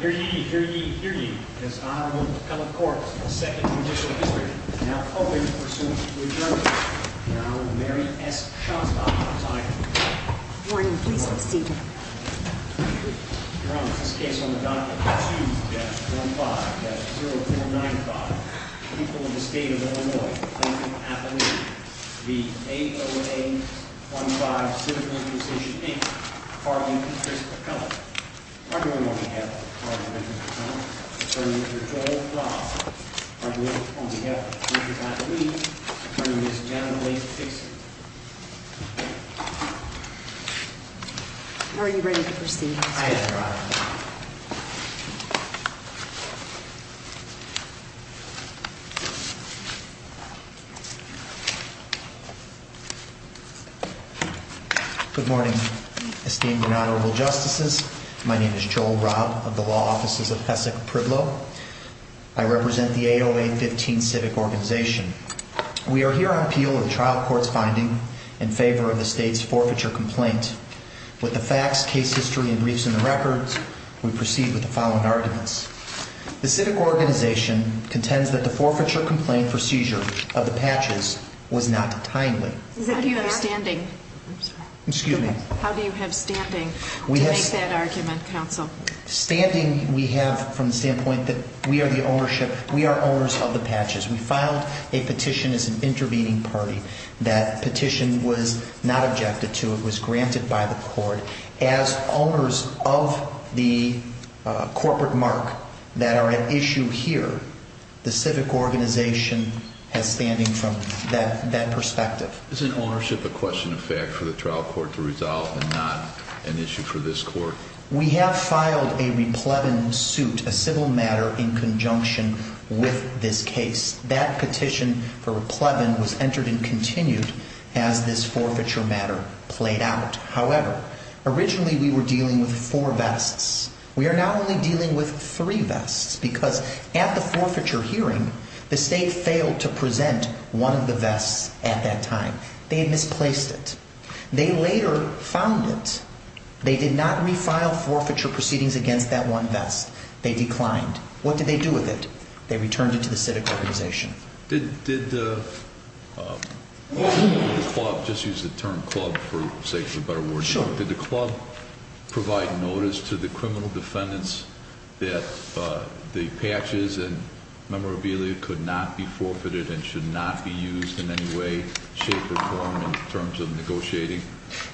Here ye, here ye, here ye, His Honorable McCullough Corp. of the 2nd Judicial District, now open for suit with Your Honor, Your Honor, Mary S. Shostakovich. Your Honor, please have a seat. Your Honor, this case on the document 2-15-0495, people of the State of Illinois, the A0A-15 Civil Imposition Inc. Partly to Chris McCullough. Partly on behalf of the Court of Arbitration, Mr. McCullough, attorney, Mr. Joel Frost. Partly on behalf of the District Attorney, attorney, Ms. Janet Leigh Dixon. Are you ready to proceed, Mr. McCullough? I am, Your Honor. Good morning, esteemed and honorable justices. My name is Joel Robb of the Law Offices of Hessek Priblo. I represent the A0A-15 Civic Organization. We are here on appeal of the trial court's finding in favor of the State's forfeiture complaint. With the facts, case history, and briefs in the records, we proceed with the following arguments. The Civic Organization contends that the forfeiture complaint for seizure of the patches was not timely. How do you have standing to make that argument, counsel? Standing we have from the standpoint that we are the owners of the patches. We filed a petition as an intervening party. That petition was not objected to. It was granted by the court. As owners of the corporate mark that are at issue here, the Civic Organization has standing from that perspective. Isn't ownership a question of fact for the trial court to resolve and not an issue for this court? We have filed a replevin suit, a civil matter, in conjunction with this case. That petition for replevin was entered and continued as this forfeiture matter played out. However, originally we were dealing with four vests. We are now only dealing with three vests because at the forfeiture hearing, the State failed to present one of the vests at that time. They had misplaced it. They later found it. They did not refile forfeiture proceedings against that one vest. They declined. What did they do with it? They returned it to the Civic Organization. Did the club, just use the term club for sake of a better word, did the club provide notice to the criminal defendants that the patches and memorabilia could not be forfeited and should not be used in any way, shape, or form in terms of negotiating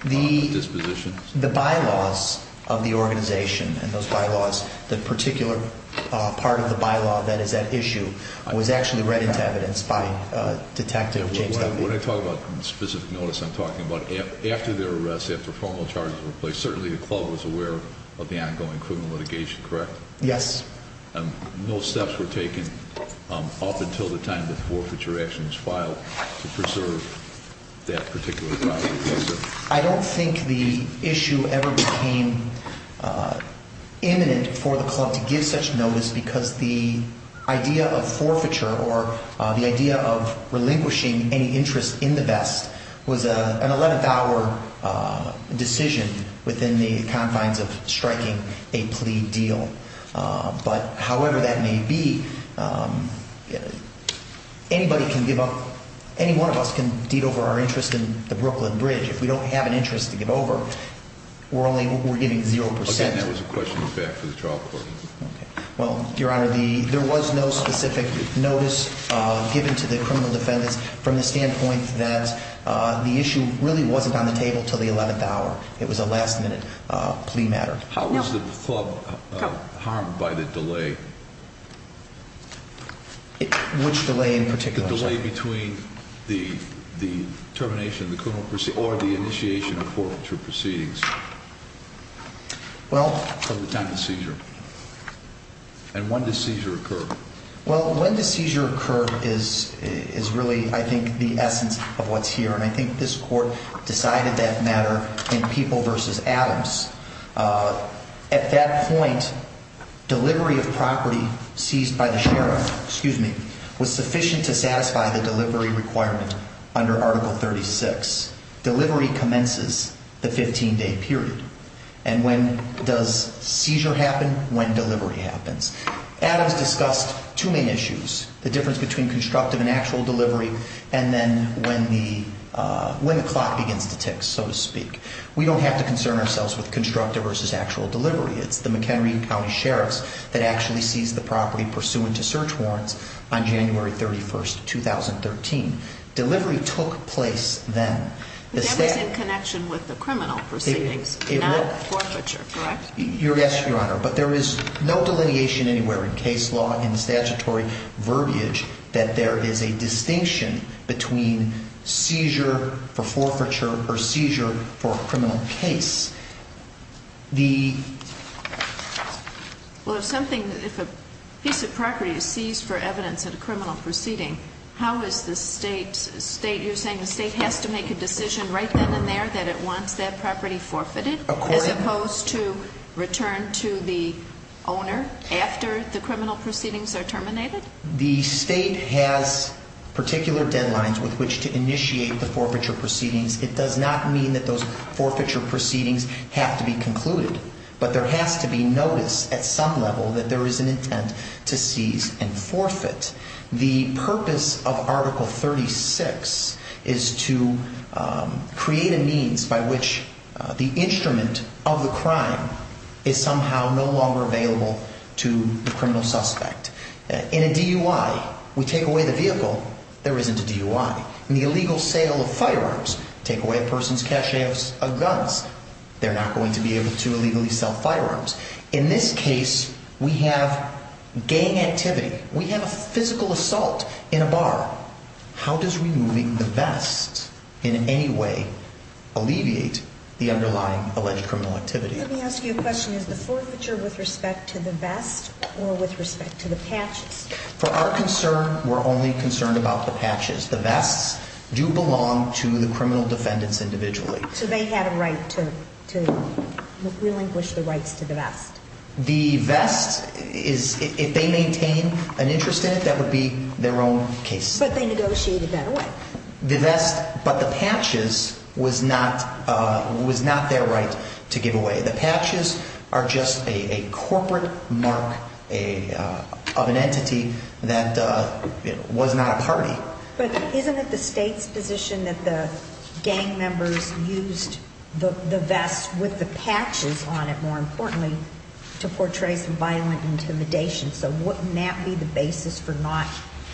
the disposition? The bylaws of the organization and those bylaws, the particular part of the bylaw that is at issue, was actually read into evidence by Detective James W. When I talk about specific notice, I'm talking about after their arrest, after formal charges were placed, certainly the club was aware of the ongoing criminal litigation, correct? Yes. No steps were taken up until the time that the forfeiture action was filed to preserve that particular property? I don't think the issue ever became imminent for the club to give such notice because the idea of forfeiture or the idea of relinquishing any interest in the vest was an 11th hour decision within the confines of striking a plea deal. But however that may be, anybody can give up, any one of us can deed over our interest in the Brooklyn Bridge. If we don't have an interest to give over, we're only, we're giving 0%. But then that was a question back to the trial court. Okay. Well, Your Honor, there was no specific notice given to the criminal defendants from the standpoint that the issue really wasn't on the table until the 11th hour. It was a last minute plea matter. How was the club harmed by the delay? Which delay in particular? The delay between the termination of the criminal proceeding or the initiation of forfeiture proceedings from the time of the seizure. And when does seizure occur? Well, when the seizure occurred is really, I think, the essence of what's here. And I think this court decided that matter in People v. Adams. At that point, delivery of property seized by the sheriff, excuse me, was sufficient to satisfy the delivery requirement under Article 36. Delivery commences the 15-day period. And when does seizure happen? When delivery happens. Adams discussed two main issues, the difference between constructive and actual delivery, and then when the clock begins to tick, so to speak. We don't have to concern ourselves with constructive versus actual delivery. It's the McHenry County Sheriffs that actually seized the property pursuant to search warrants on January 31st, 2013. Delivery took place then. But that was in connection with the criminal proceedings, not forfeiture, correct? Yes, Your Honor. But there is no delineation anywhere in case law, in statutory verbiage, that there is a distinction between seizure for forfeiture or seizure for a criminal case. Well, if something, if a piece of property is seized for evidence at a criminal proceeding, how is the state, you're saying the state has to make a decision right then and there that it wants that property forfeited? As opposed to return to the owner after the criminal proceedings are terminated? The state has particular deadlines with which to initiate the forfeiture proceedings. It does not mean that those forfeiture proceedings have to be concluded. But there has to be notice at some level that there is an intent to seize and forfeit. The purpose of Article 36 is to create a means by which the instrument of the crime is somehow no longer available to the criminal suspect. In a DUI, we take away the vehicle, there isn't a DUI. In the illegal sale of firearms, take away a person's cache of guns, they're not going to be able to illegally sell firearms. In this case, we have gang activity. We have a physical assault in a bar. How does removing the vest in any way alleviate the underlying alleged criminal activity? Let me ask you a question. Is the forfeiture with respect to the vest or with respect to the patches? For our concern, we're only concerned about the patches. The vests do belong to the criminal defendants individually. So they have a right to relinquish the rights to the vest? The vest is, if they maintain an interest in it, that would be their own case. But they negotiated that away. The vest, but the patches was not their right to give away. The patches are just a corporate mark of an entity that was not a party. But isn't it the state's position that the gang members used the vest with the patches on it, more importantly, to portray some violent intimidation? So wouldn't that be the basis for not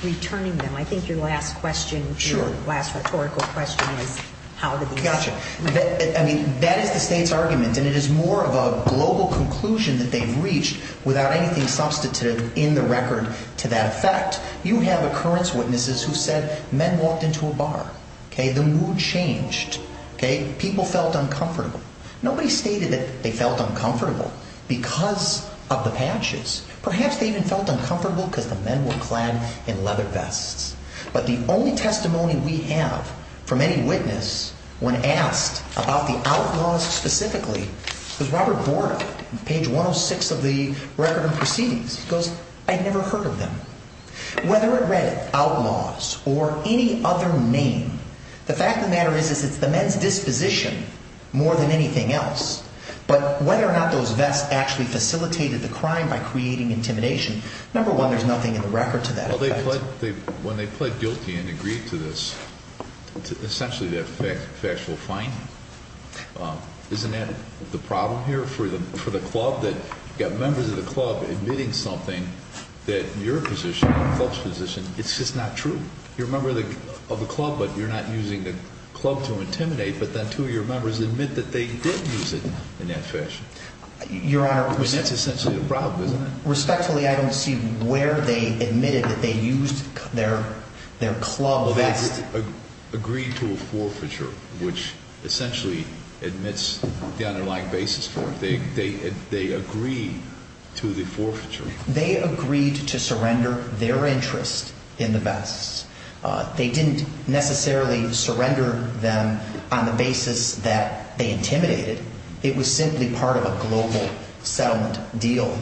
returning them? I think your last question, your last rhetorical question, is how did these— Gotcha. I mean, that is the state's argument, and it is more of a global conclusion that they've reached without anything substantive in the record to that effect. You have occurrence witnesses who said men walked into a bar. The mood changed. People felt uncomfortable. Nobody stated that they felt uncomfortable because of the patches. Perhaps they even felt uncomfortable because the men were clad in leather vests. But the only testimony we have from any witness when asked about the outlaws specifically was Robert Borda, page 106 of the Record of Proceedings. He goes, I'd never heard of them. Whether it read outlaws or any other name, the fact of the matter is it's the men's disposition more than anything else. But whether or not those vests actually facilitated the crime by creating intimidation, number one, there's nothing in the record to that effect. Well, they pled—when they pled guilty and agreed to this, it's essentially their factual finding. Isn't that the problem here for the club, that you've got members of the club admitting something that your position, the club's position, it's just not true? You're a member of the club, but you're not using the club to intimidate, but then two of your members admit that they did use it in that fashion. Your Honor— I mean, that's essentially the problem, isn't it? Respectfully, I don't see where they admitted that they used their club vests. They agreed to a forfeiture, which essentially admits the underlying basis for it. They agreed to the forfeiture. They agreed to surrender their interest in the vests. They didn't necessarily surrender them on the basis that they intimidated. It was simply part of a global settlement deal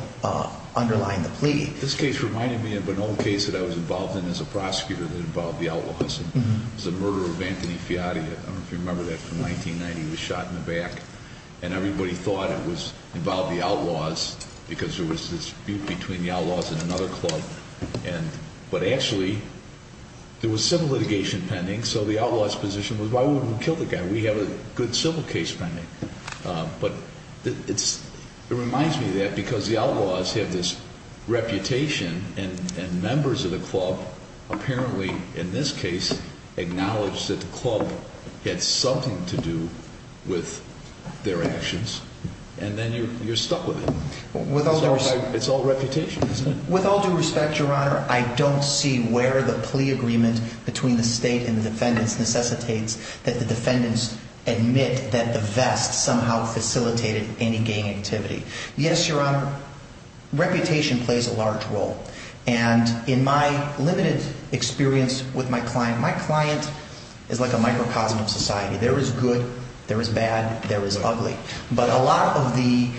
underlying the plea. This case reminded me of an old case that I was involved in as a prosecutor that involved the outlaws. It was the murder of Anthony Fiati. I don't know if you remember that from 1990. He was shot in the back, and everybody thought it involved the outlaws because there was this dispute between the outlaws and another club. But actually, there was civil litigation pending, so the outlaw's position was, why wouldn't we kill the guy? We have a good civil case pending. But it reminds me of that because the outlaws have this reputation, and members of the club apparently, in this case, acknowledged that the club had something to do with their actions, and then you're stuck with it. It's all reputation, isn't it? With all due respect, Your Honor, I don't see where the plea agreement between the state and the defendants necessitates that the defendants admit that the vest somehow facilitated any gang activity. Yes, Your Honor, reputation plays a large role. And in my limited experience with my client, my client is like a microcosm of society. There is good, there is bad, there is ugly. But a lot of the,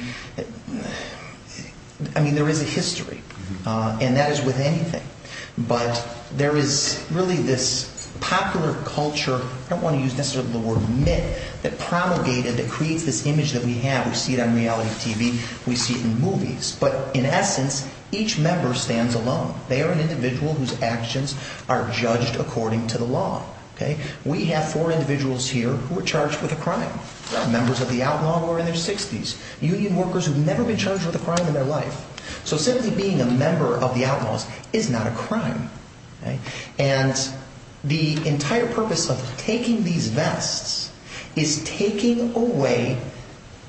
I mean, there is a history, and that is with anything. But there is really this popular culture, I don't want to use necessarily the word myth, that promulgated, that creates this image that we have. We see it on reality TV. We see it in movies. But in essence, each member stands alone. They are an individual whose actions are judged according to the law. We have four individuals here who were charged with a crime. Members of the outlaw who are in their 60s. Union workers who've never been charged with a crime in their life. So simply being a member of the outlaws is not a crime. And the entire purpose of taking these vests is taking away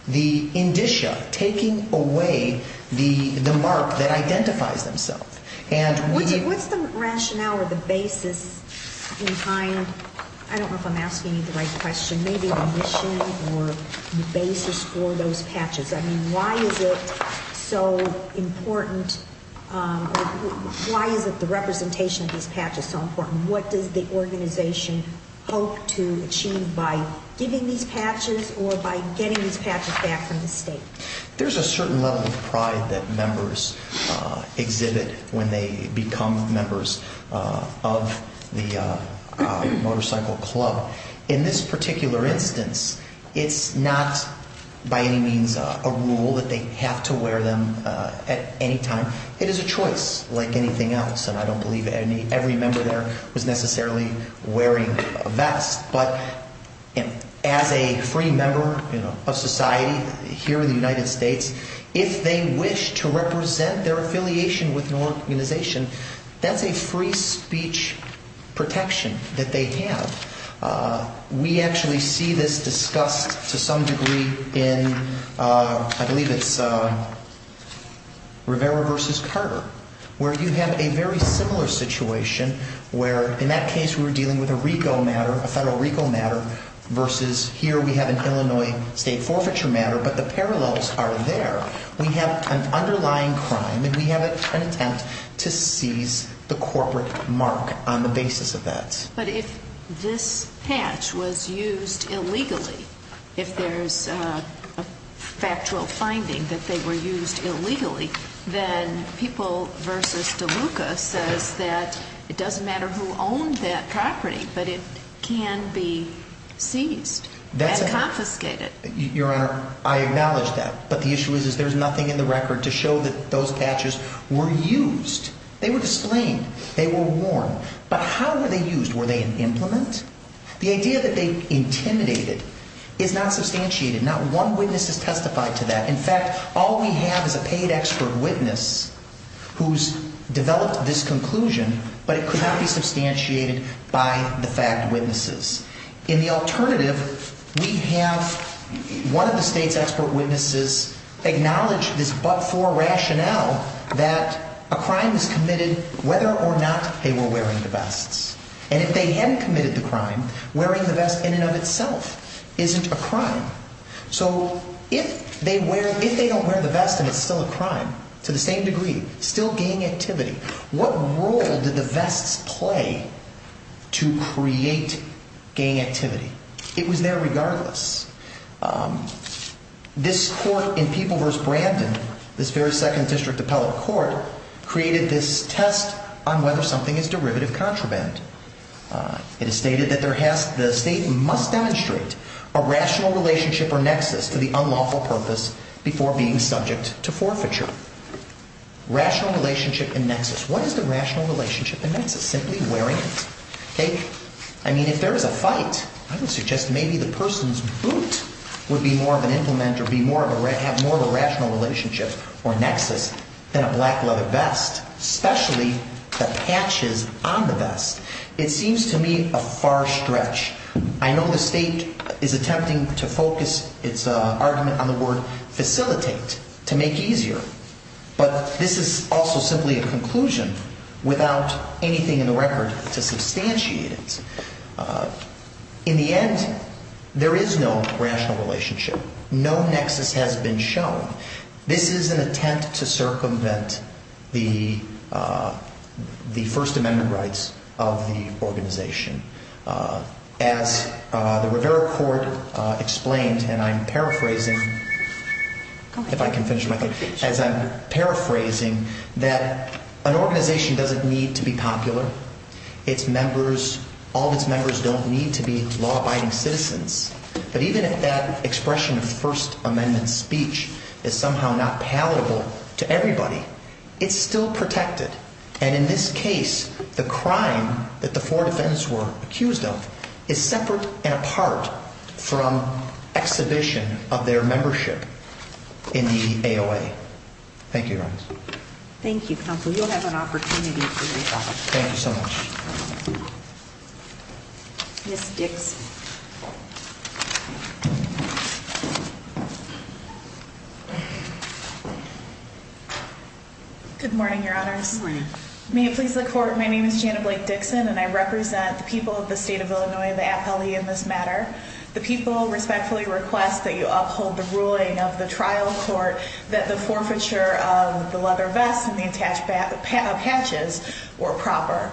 the indicia, taking away the mark that identifies themselves. What's the rationale or the basis behind, I don't know if I'm asking you the right question, maybe the mission or the basis for those patches? I mean, why is it so important, why is it the representation of these patches so important? What does the organization hope to achieve by giving these patches or by getting these patches back from the state? There's a certain level of pride that members exhibit when they become members of the motorcycle club. In this particular instance, it's not by any means a rule that they have to wear them at any time. It is a choice like anything else. And I don't believe every member there was necessarily wearing a vest. But as a free member of society here in the United States, if they wish to represent their affiliation with an organization, that's a free speech protection that they have. We actually see this discussed to some degree in, I believe it's Rivera v. Carter, where you have a very similar situation where in that case we were dealing with a RICO matter, a federal RICO matter, versus here we have an Illinois state forfeiture matter, but the parallels are there. We have an underlying crime and we have an attempt to seize the corporate mark on the basis of that. But if this patch was used illegally, if there's a factual finding that they were used illegally, then People v. DeLuca says that it doesn't matter who owned that property, but it can be seized and confiscated. Your Honor, I acknowledge that. But the issue is there's nothing in the record to show that those patches were used. They were disclaimed. They were worn. But how were they used? Were they in implement? The idea that they intimidated is not substantiated. Not one witness has testified to that. In fact, all we have is a paid expert witness who's developed this conclusion, but it could not be substantiated by the fact witnesses. In the alternative, we have one of the state's expert witnesses acknowledge this but-for rationale that a crime was committed whether or not they were wearing the vests. And if they had committed the crime, wearing the vest in and of itself isn't a crime. So if they don't wear the vest and it's still a crime to the same degree, still gang activity, what role did the vests play to create gang activity? It was there regardless. This court in People v. Brandon, this very second district appellate court, created this test on whether something is derivative contraband. It is stated that the state must demonstrate a rational relationship or nexus to the unlawful purpose before being subject to forfeiture. Rational relationship and nexus. What is the rational relationship and nexus? Simply wearing it. I mean, if there is a fight, I would suggest maybe the person's boot would be more of an implement or have more of a rational relationship or nexus than a black leather vest, especially the patches on the vest. It seems to me a far stretch. I know the state is attempting to focus its argument on the word facilitate to make easier, but this is also simply a conclusion without anything in the record to substantiate it. In the end, there is no rational relationship. No nexus has been shown. This is an attempt to circumvent the First Amendment rights of the organization. As the Rivera Court explained, and I'm paraphrasing, if I can finish my thing, as I'm paraphrasing, that an organization doesn't need to be popular. All of its members don't need to be law-abiding citizens. But even if that expression of the First Amendment speech is somehow not palatable to everybody, it's still protected. And in this case, the crime that the four defendants were accused of is separate and apart from exhibition of their membership in the AOA. Thank you, Your Honors. Thank you, Counsel. You'll have an opportunity to respond. Thank you so much. Ms. Dix. Good morning, Your Honors. Good morning. May it please the Court, my name is Jana Blake-Dixon, and I represent the people of the state of Illinois, the appellee, in this matter. The people respectfully request that you uphold the ruling of the trial court that the forfeiture of the leather vests and the attached patches were proper.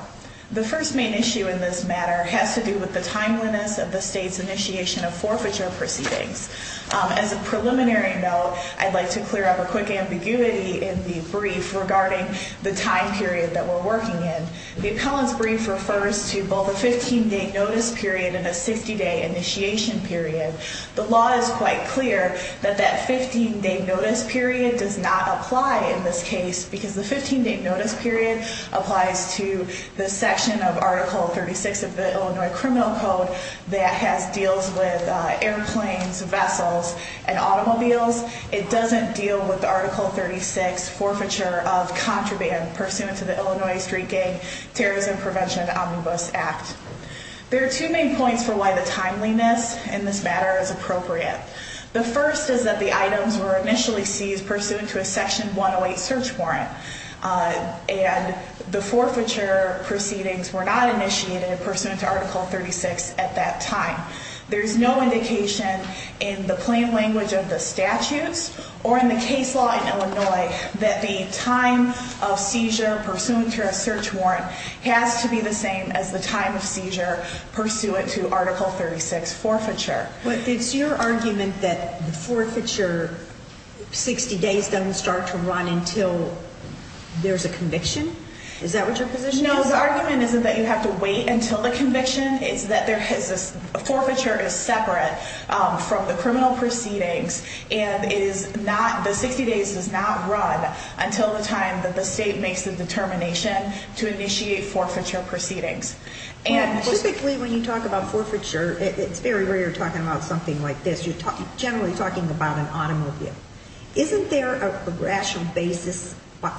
The first main issue in this matter has to do with the timeliness of the state's initiation of forfeiture proceedings. As a preliminary note, I'd like to clear up a quick ambiguity in the brief regarding the time period that we're working in. The appellant's brief refers to both a 15-day notice period and a 60-day initiation period. The law is quite clear that that 15-day notice period does not apply in this case because the 15-day notice period applies to the section of Article 36 of the Illinois Criminal Code that deals with airplanes, vessels, and automobiles. It doesn't deal with the Article 36 forfeiture of contraband pursuant to the Illinois Street Gang Terrorism Prevention Omnibus Act. There are two main points for why the timeliness in this matter is appropriate. The first is that the items were initially seized pursuant to a Section 108 search warrant and the forfeiture proceedings were not initiated pursuant to Article 36 at that time. There's no indication in the plain language of the statutes or in the case law in Illinois that the time of seizure pursuant to a search warrant has to be the same as the time of seizure pursuant to Article 36 forfeiture. But it's your argument that the forfeiture 60 days doesn't start to run until there's a conviction? Is that what your position is? No, the argument isn't that you have to wait until the conviction. It's that the forfeiture is separate from the criminal proceedings and the 60 days does not run until the time that the state makes the determination to initiate forfeiture proceedings. Typically when you talk about forfeiture, it's very rare talking about something like this. You're generally talking about an automobile. Isn't there a rational basis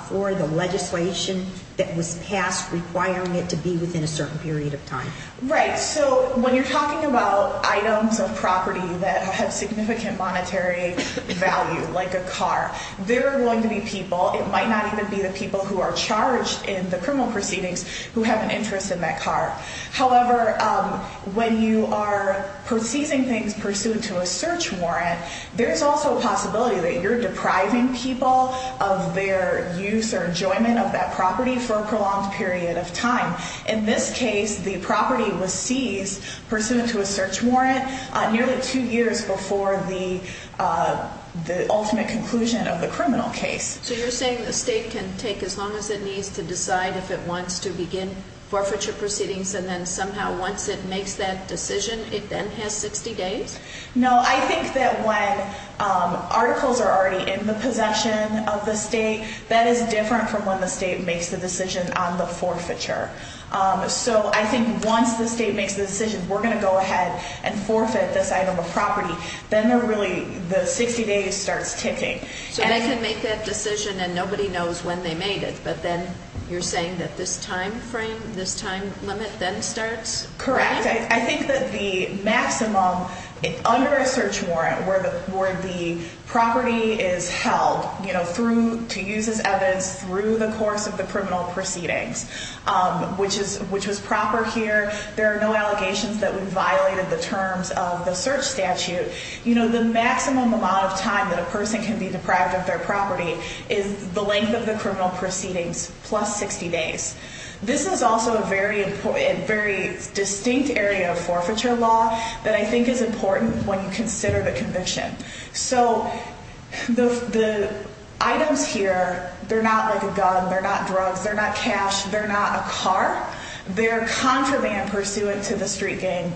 for the legislation that was passed requiring it to be within a certain period of time? Right, so when you're talking about items of property that have significant monetary value, like a car, there are going to be people, it might not even be the people who are charged in the criminal proceedings who have an interest in that car. However, when you are seizing things pursuant to a search warrant, there's also a possibility that you're depriving people of their use or enjoyment of that property for a prolonged period of time. In this case, the property was seized pursuant to a search warrant nearly two years before the ultimate conclusion of the criminal case. So you're saying the state can take as long as it needs to decide if it wants to begin forfeiture proceedings and then somehow once it makes that decision, it then has 60 days? No, I think that when articles are already in the possession of the state, that is different from when the state makes the decision on the forfeiture. So I think once the state makes the decision, we're going to go ahead and forfeit this item of property, then the 60 days starts ticking. So they can make that decision and nobody knows when they made it, but then you're saying that this time frame, this time limit then starts? Correct. I think that the maximum under a search warrant where the property is held to use as evidence through the course of the criminal proceedings, which was proper here, there are no allegations that would violate the terms of the search statute, the maximum amount of time that a person can be deprived of their property is the length of the criminal proceedings plus 60 days. This is also a very distinct area of forfeiture law that I think is important when you consider the conviction. So the items here, they're not like a gun, they're not drugs, they're not cash, they're not a car. They're contraband pursuant to the Street Gang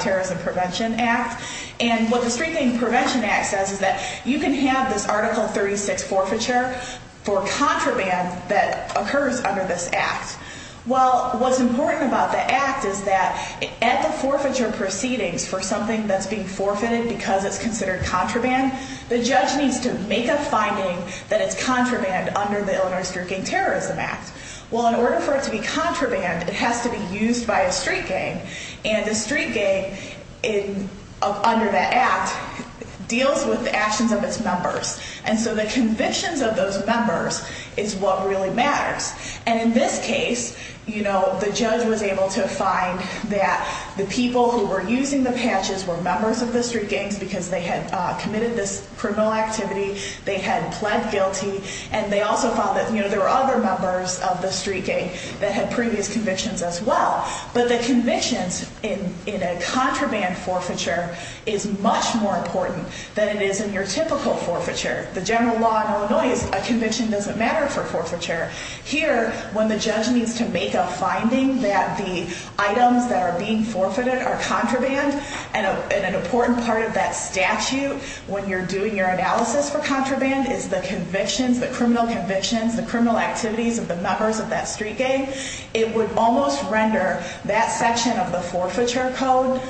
Terrorism Prevention Act and what the Street Gang Prevention Act says is that you can have this Article 36 forfeiture for contraband that occurs under this act. Well, what's important about the act is that at the forfeiture proceedings for something that's being forfeited because it's considered contraband, the judge needs to make a finding that it's contraband under the Illinois Street Gang Terrorism Act. Well, in order for it to be contraband, it has to be used by a street gang and the street gang under that act deals with the actions of its members and so the convictions of those members is what really matters. And in this case, the judge was able to find that the people who were using the patches were members of the street gangs because they had committed this criminal activity, they had pled guilty, and they also found that there were other members of the street gang that had previous convictions as well. But the convictions in a contraband forfeiture is much more important than it is in your typical forfeiture. The general law in Illinois is a conviction doesn't matter for forfeiture. Here, when the judge needs to make a finding that the items that are being forfeited are contraband and an important part of that statute when you're doing your analysis for contraband is the convictions, the criminal convictions, the criminal activities of the members of that street gang, it would almost render that section of the forfeiture code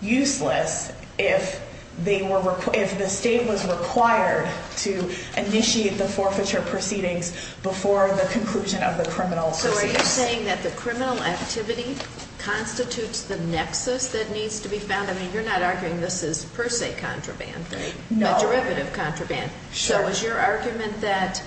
useless if the state was required to initiate the forfeiture proceedings before the conclusion of the criminal proceedings. So are you saying that the criminal activity constitutes the nexus that needs to be found? I mean, you're not arguing this is per se contraband, right? No. It's a derivative contraband. Sure. So is your argument that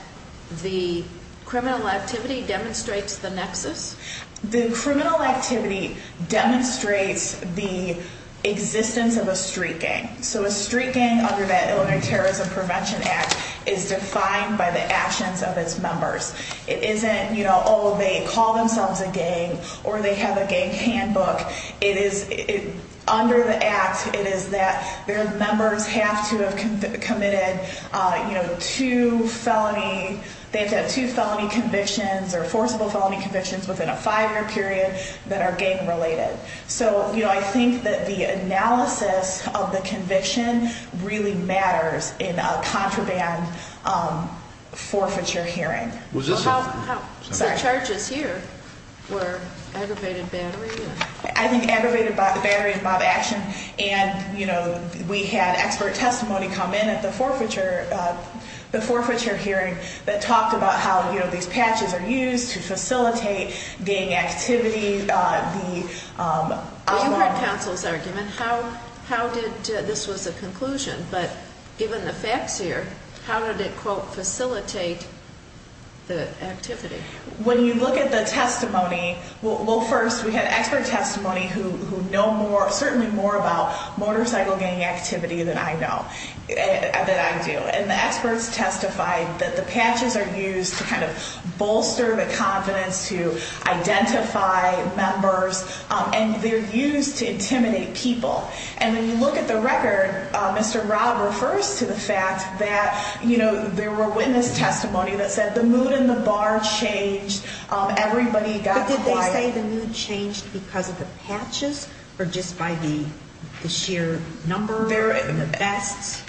the criminal activity demonstrates the nexus? The criminal activity demonstrates the existence of a street gang. So a street gang under that Illinois Terrorism Prevention Act is defined by the actions of its members. It isn't, you know, oh, they call themselves a gang or they have a gang handbook. It is under the act, it is that their members have to have committed, you know, two felony, they have to have two felony convictions or forcible felony convictions within a five-year period that are gang related. So, you know, I think that the analysis of the conviction really matters in a contraband forfeiture hearing. The charges here were aggravated battery? I think aggravated battery involved action and, you know, we had expert testimony come in at the forfeiture hearing that talked about how, you know, these patches are used to facilitate gang activity. You heard counsel's argument, how did this was a conclusion, but given the facts here, how did it, quote, facilitate the activity? When you look at the testimony, well, first we had expert testimony who know more, certainly more about motorcycle gang activity than I know, than I do. And the experts testified that the patches are used to kind of bolster the confidence to identify members and they're used to intimidate people. And when you look at the record, Mr. Robb refers to the fact that, you know, there were witness testimony that said the mood in the bar changed, everybody got quiet. But did they say the mood changed because of the patches or just by the sheer number there and the best?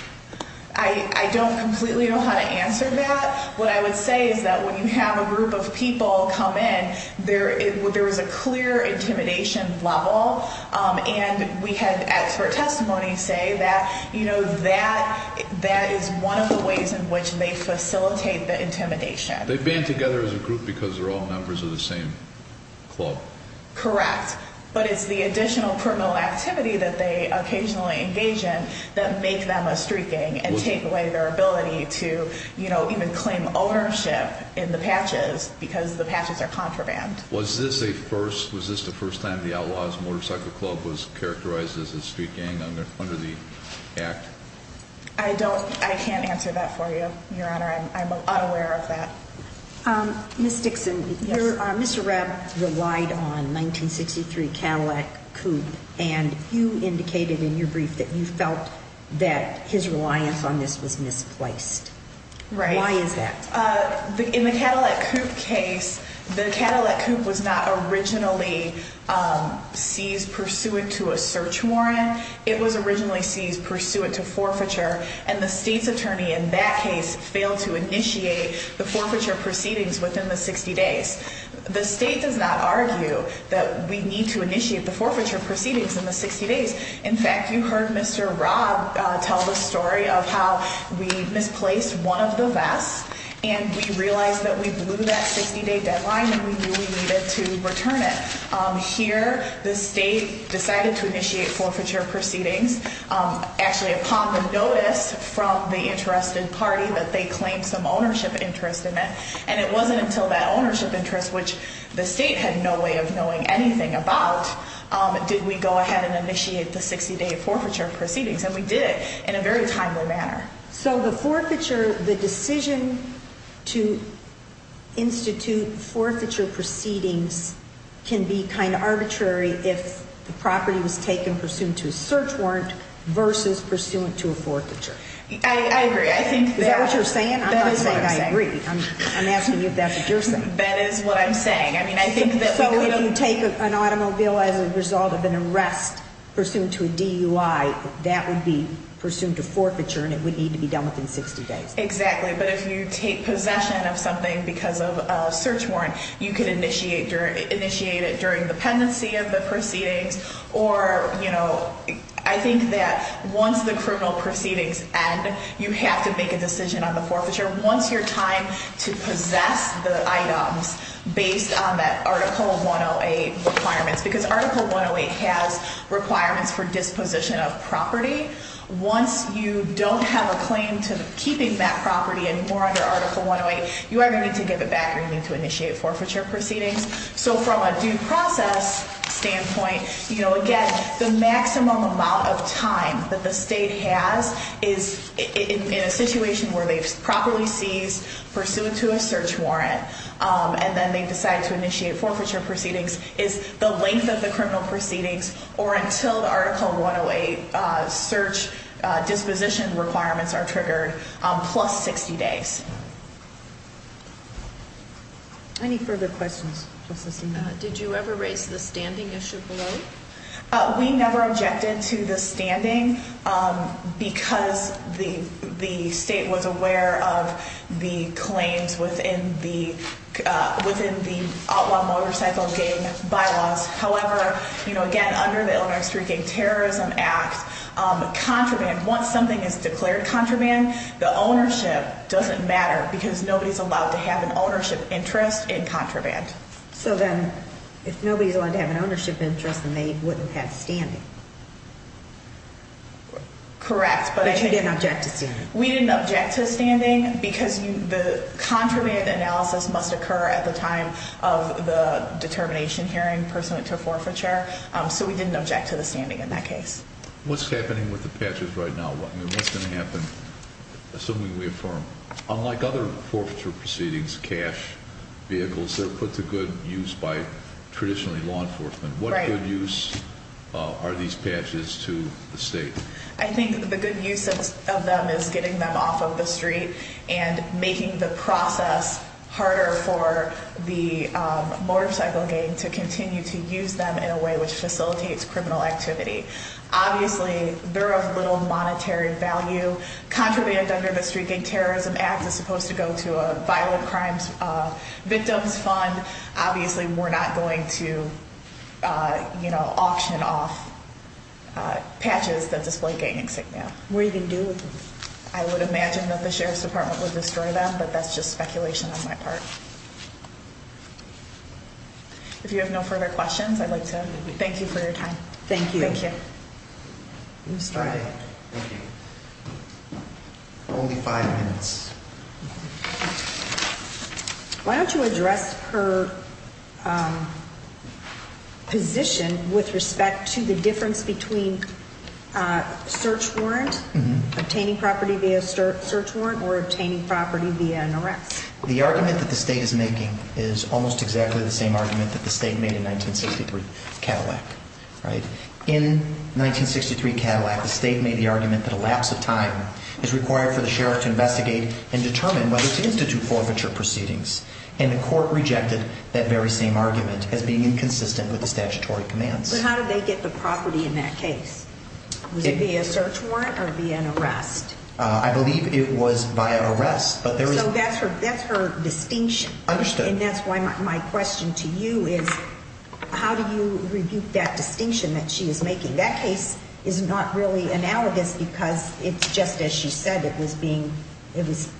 I don't completely know how to answer that. What I would say is that when you have a group of people come in, there is a clear intimidation level and we had expert testimony say that, you know, that is one of the ways in which they facilitate the intimidation. They band together as a group because they're all members of the same club. Correct. But it's the additional criminal activity that they occasionally engage in that make them a street gang and take away their ability to, you know, even claim ownership in the patches because the patches are contraband. Was this the first time the Outlaws Motorcycle Club was characterized as a street gang under the Act? I can't answer that for you, Your Honor. I'm unaware of that. Ms. Dixon, Mr. Robb relied on 1963 Cadillac Coupe, and you indicated in your brief that you felt that his reliance on this was misplaced. Right. Why is that? In the Cadillac Coupe case, the Cadillac Coupe was not originally seized pursuant to a search warrant. It was originally seized pursuant to forfeiture, and the state's attorney in that case failed to initiate the forfeiture proceedings within the 60 days. The state does not argue that we need to initiate the forfeiture proceedings in the 60 days. In fact, you heard Mr. Robb tell the story of how we misplaced one of the vests and we realized that we blew that 60-day deadline and we knew we needed to return it. Here, the state decided to initiate forfeiture proceedings. Actually, upon the notice from the interested party that they claimed some ownership interest in it, and it wasn't until that ownership interest, which the state had no way of knowing anything about, did we go ahead and initiate the 60-day forfeiture proceedings, and we did in a very timely manner. So the forfeiture, the decision to institute forfeiture proceedings can be kind of arbitrary if the property was taken pursuant to a search warrant versus pursuant to a forfeiture. I agree. Is that what you're saying? That is what I'm saying. I agree. I'm asking you if that's what you're saying. That is what I'm saying. So if you take an automobile as a result of an arrest pursuant to a DUI, that would be pursuant to forfeiture and it would need to be done within 60 days. Exactly. But if you take possession of something because of a search warrant, you could initiate it during the pendency of the proceedings or, you know, I think that once the criminal proceedings end, you have to make a decision on the forfeiture. Once your time to possess the items based on that Article 108 requirements, because Article 108 has requirements for disposition of property, once you don't have a claim to keeping that property anymore under Article 108, you either need to give it back or you need to initiate forfeiture proceedings. So from a due process standpoint, you know, again, the maximum amount of time that the state has in a situation where they've properly seized pursuant to a search warrant and then they decide to initiate forfeiture proceedings is the length of the criminal proceedings or until the Article 108 search disposition requirements are triggered plus 60 days. Any further questions? Did you ever raise the standing issue below? We never objected to the standing because the state was aware of the claims within the Outlaw Motorcycle Gang Bylaws. However, you know, again, under the Illinois Street Gang Terrorism Act, contraband, once something is declared contraband, the ownership doesn't matter because nobody's allowed to have an ownership interest in contraband. Correct. So then if nobody's allowed to have an ownership interest, then they wouldn't have standing. Correct. But you didn't object to standing. We didn't object to standing because the contraband analysis must occur at the time of the determination hearing pursuant to forfeiture. So we didn't object to the standing in that case. What's happening with the patches right now? I mean, what's going to happen, assuming we affirm? Unlike other forfeiture proceedings, cash vehicles, they're put to good use by traditionally law enforcement. What good use are these patches to the state? I think the good use of them is getting them off of the street and making the process harder for the motorcycle gang to continue to use them in a way which facilitates criminal activity. Obviously, they're of little monetary value. Contraband Under the Street Gang Terrorism Act is supposed to go to a vital crimes victims fund. Obviously, we're not going to, you know, auction off patches that display gang insignia. What are you going to do with them? I would imagine that the Sheriff's Department would destroy them, but that's just speculation on my part. If you have no further questions, I'd like to thank you for your time. Thank you. Only five minutes. Why don't you address her position with respect to the difference between a search warrant, obtaining property via a search warrant, or obtaining property via an arrest? The argument that the state is making is almost exactly the same argument that the state made in 1963 Cadillac, right? In 1963 Cadillac, the state made the argument that a lapse of time is required for the sheriff to investigate and determine whether to institute forfeiture proceedings. And the court rejected that very same argument as being inconsistent with the statutory commands. But how did they get the property in that case? Was it via a search warrant or via an arrest? I believe it was via arrest, but there is... So that's her distinction. I understand. And that's why my question to you is, how do you rebuke that distinction that she is making? That case is not really analogous because it's just as she said. It was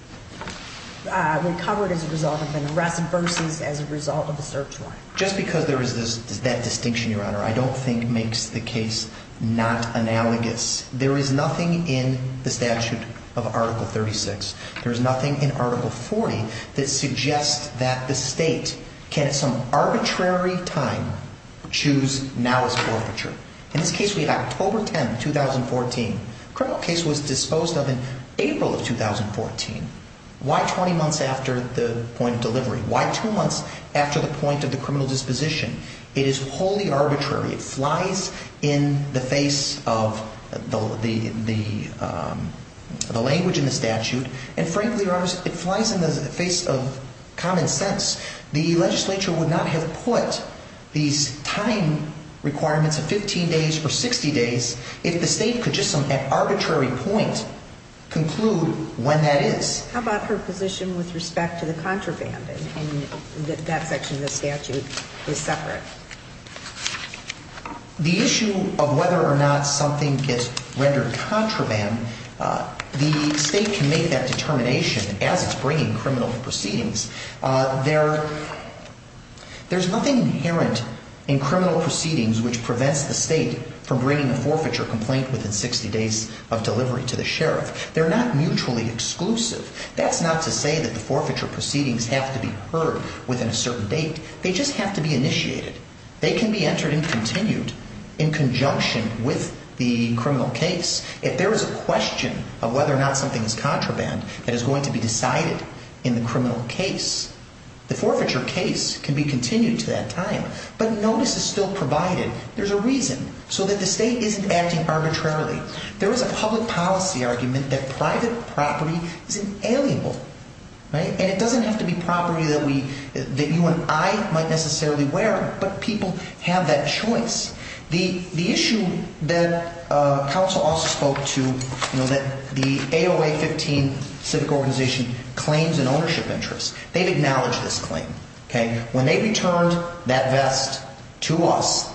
recovered as a result of an arrest versus as a result of a search warrant. Just because there is that distinction, Your Honor, I don't think makes the case not analogous. There is nothing in the statute of Article 36. There is nothing in Article 40 that suggests that the state can at some arbitrary time choose now as forfeiture. In this case, we have October 10, 2014. The criminal case was disposed of in April of 2014. Why 20 months after the point of delivery? Why two months after the point of the criminal disposition? It is wholly arbitrary. It flies in the face of the language in the statute. And frankly, Your Honor, it flies in the face of common sense. The legislature would not have put these time requirements of 15 days or 60 days if the state could just at some arbitrary point conclude when that is. How about her position with respect to the contraband in that section of the statute is separate? The issue of whether or not something gets rendered contraband, the state can make that determination as it's bringing criminal proceedings. There's nothing inherent in criminal proceedings which prevents the state from bringing a forfeiture complaint within 60 days of delivery to the sheriff. They're not mutually exclusive. That's not to say that the forfeiture proceedings have to be heard within a certain date. They just have to be initiated. They can be entered and continued in conjunction with the criminal case if there is a question of whether or not something is contraband that is going to be decided in the criminal case. The forfeiture case can be continued to that time, but notice is still provided. There's a reason so that the state isn't acting arbitrarily. There is a public policy argument that private property is inalienable, and it doesn't have to be property that you and I might necessarily wear, but people have that choice. The issue that counsel also spoke to, that the AOA-15 civic organization claims an ownership interest. They've acknowledged this claim. When they returned that vest to us,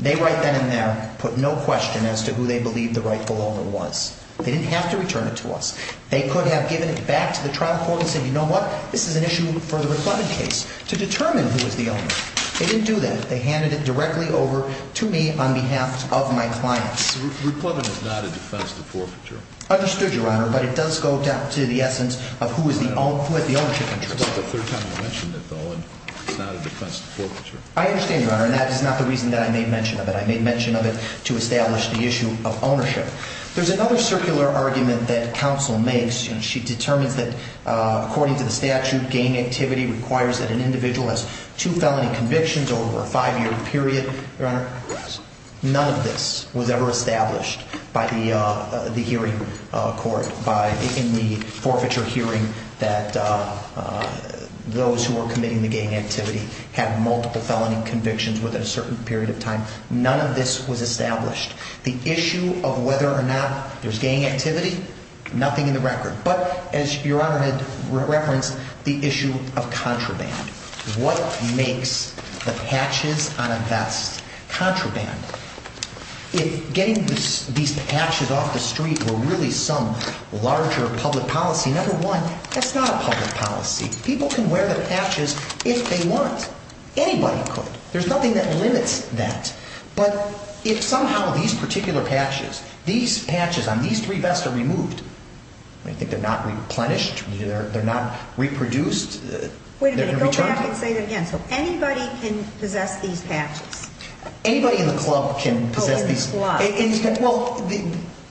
they right then and there put no question as to who they believed the rightful owner was. They didn't have to return it to us. They could have given it back to the trial court and said, you know what? This is an issue for the Ricklevin case to determine who is the owner. They didn't do that. They handed it directly over to me on behalf of my clients. Ricklevin is not a defense to forfeiture. Understood, Your Honor, but it does go down to the essence of who had the ownership interest. That's the third time you've mentioned it, though, and it's not a defense to forfeiture. I understand, Your Honor, and that is not the reason that I made mention of it. I made mention of it to establish the issue of ownership. There's another circular argument that counsel makes. She determines that according to the statute, gang activity requires that an individual has two felony convictions over a five-year period. None of this was ever established by the hearing court in the forfeiture hearing that those who were committing the gang activity had multiple felony convictions within a certain period of time. None of this was established. The issue of whether or not there's gang activity, nothing in the record. But as Your Honor had referenced, the issue of contraband. What makes the patches on a vest contraband? If getting these patches off the street were really some larger public policy, number one, that's not a public policy. People can wear the patches if they want. Anybody could. There's nothing that limits that. But if somehow these particular patches, these patches on these three vests are removed, I think they're not replenished, they're not reproduced. Wait a minute. Go back and say that again. So anybody can possess these patches? Anybody in the club can possess these. In the squad. Well,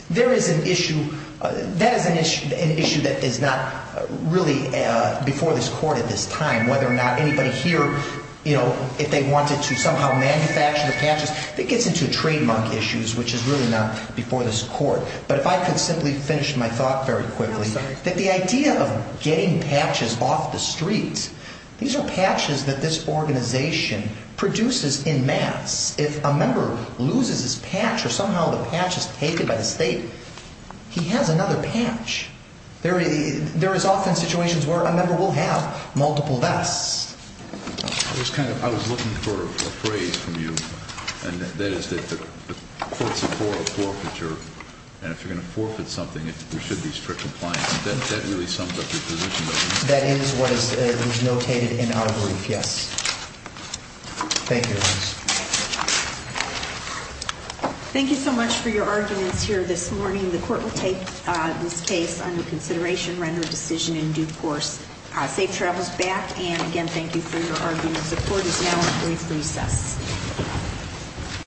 there is an issue. That is an issue that is not really before this court at this time, whether or not anybody here, you know, if they wanted to somehow manufacture the patches. It gets into trademark issues, which is really not before this court. But if I could simply finish my thought very quickly, that the idea of getting patches off the street, these are patches that this organization produces in mass. If a member loses his patch or somehow the patch is taken by the state, he has another patch. There is often situations where a member will have multiple vests. I was looking for a phrase from you, and that is that the courts are for a forfeiture. And if you're going to forfeit something, there should be strict compliance. That really sums up your position. That is what is notated in our brief, yes. Thank you. Thank you so much for your arguments here this morning. The court will take this case under consideration, render a decision in due course. Safe travels back. And again, thank you for your arguments. The court is now in brief recess.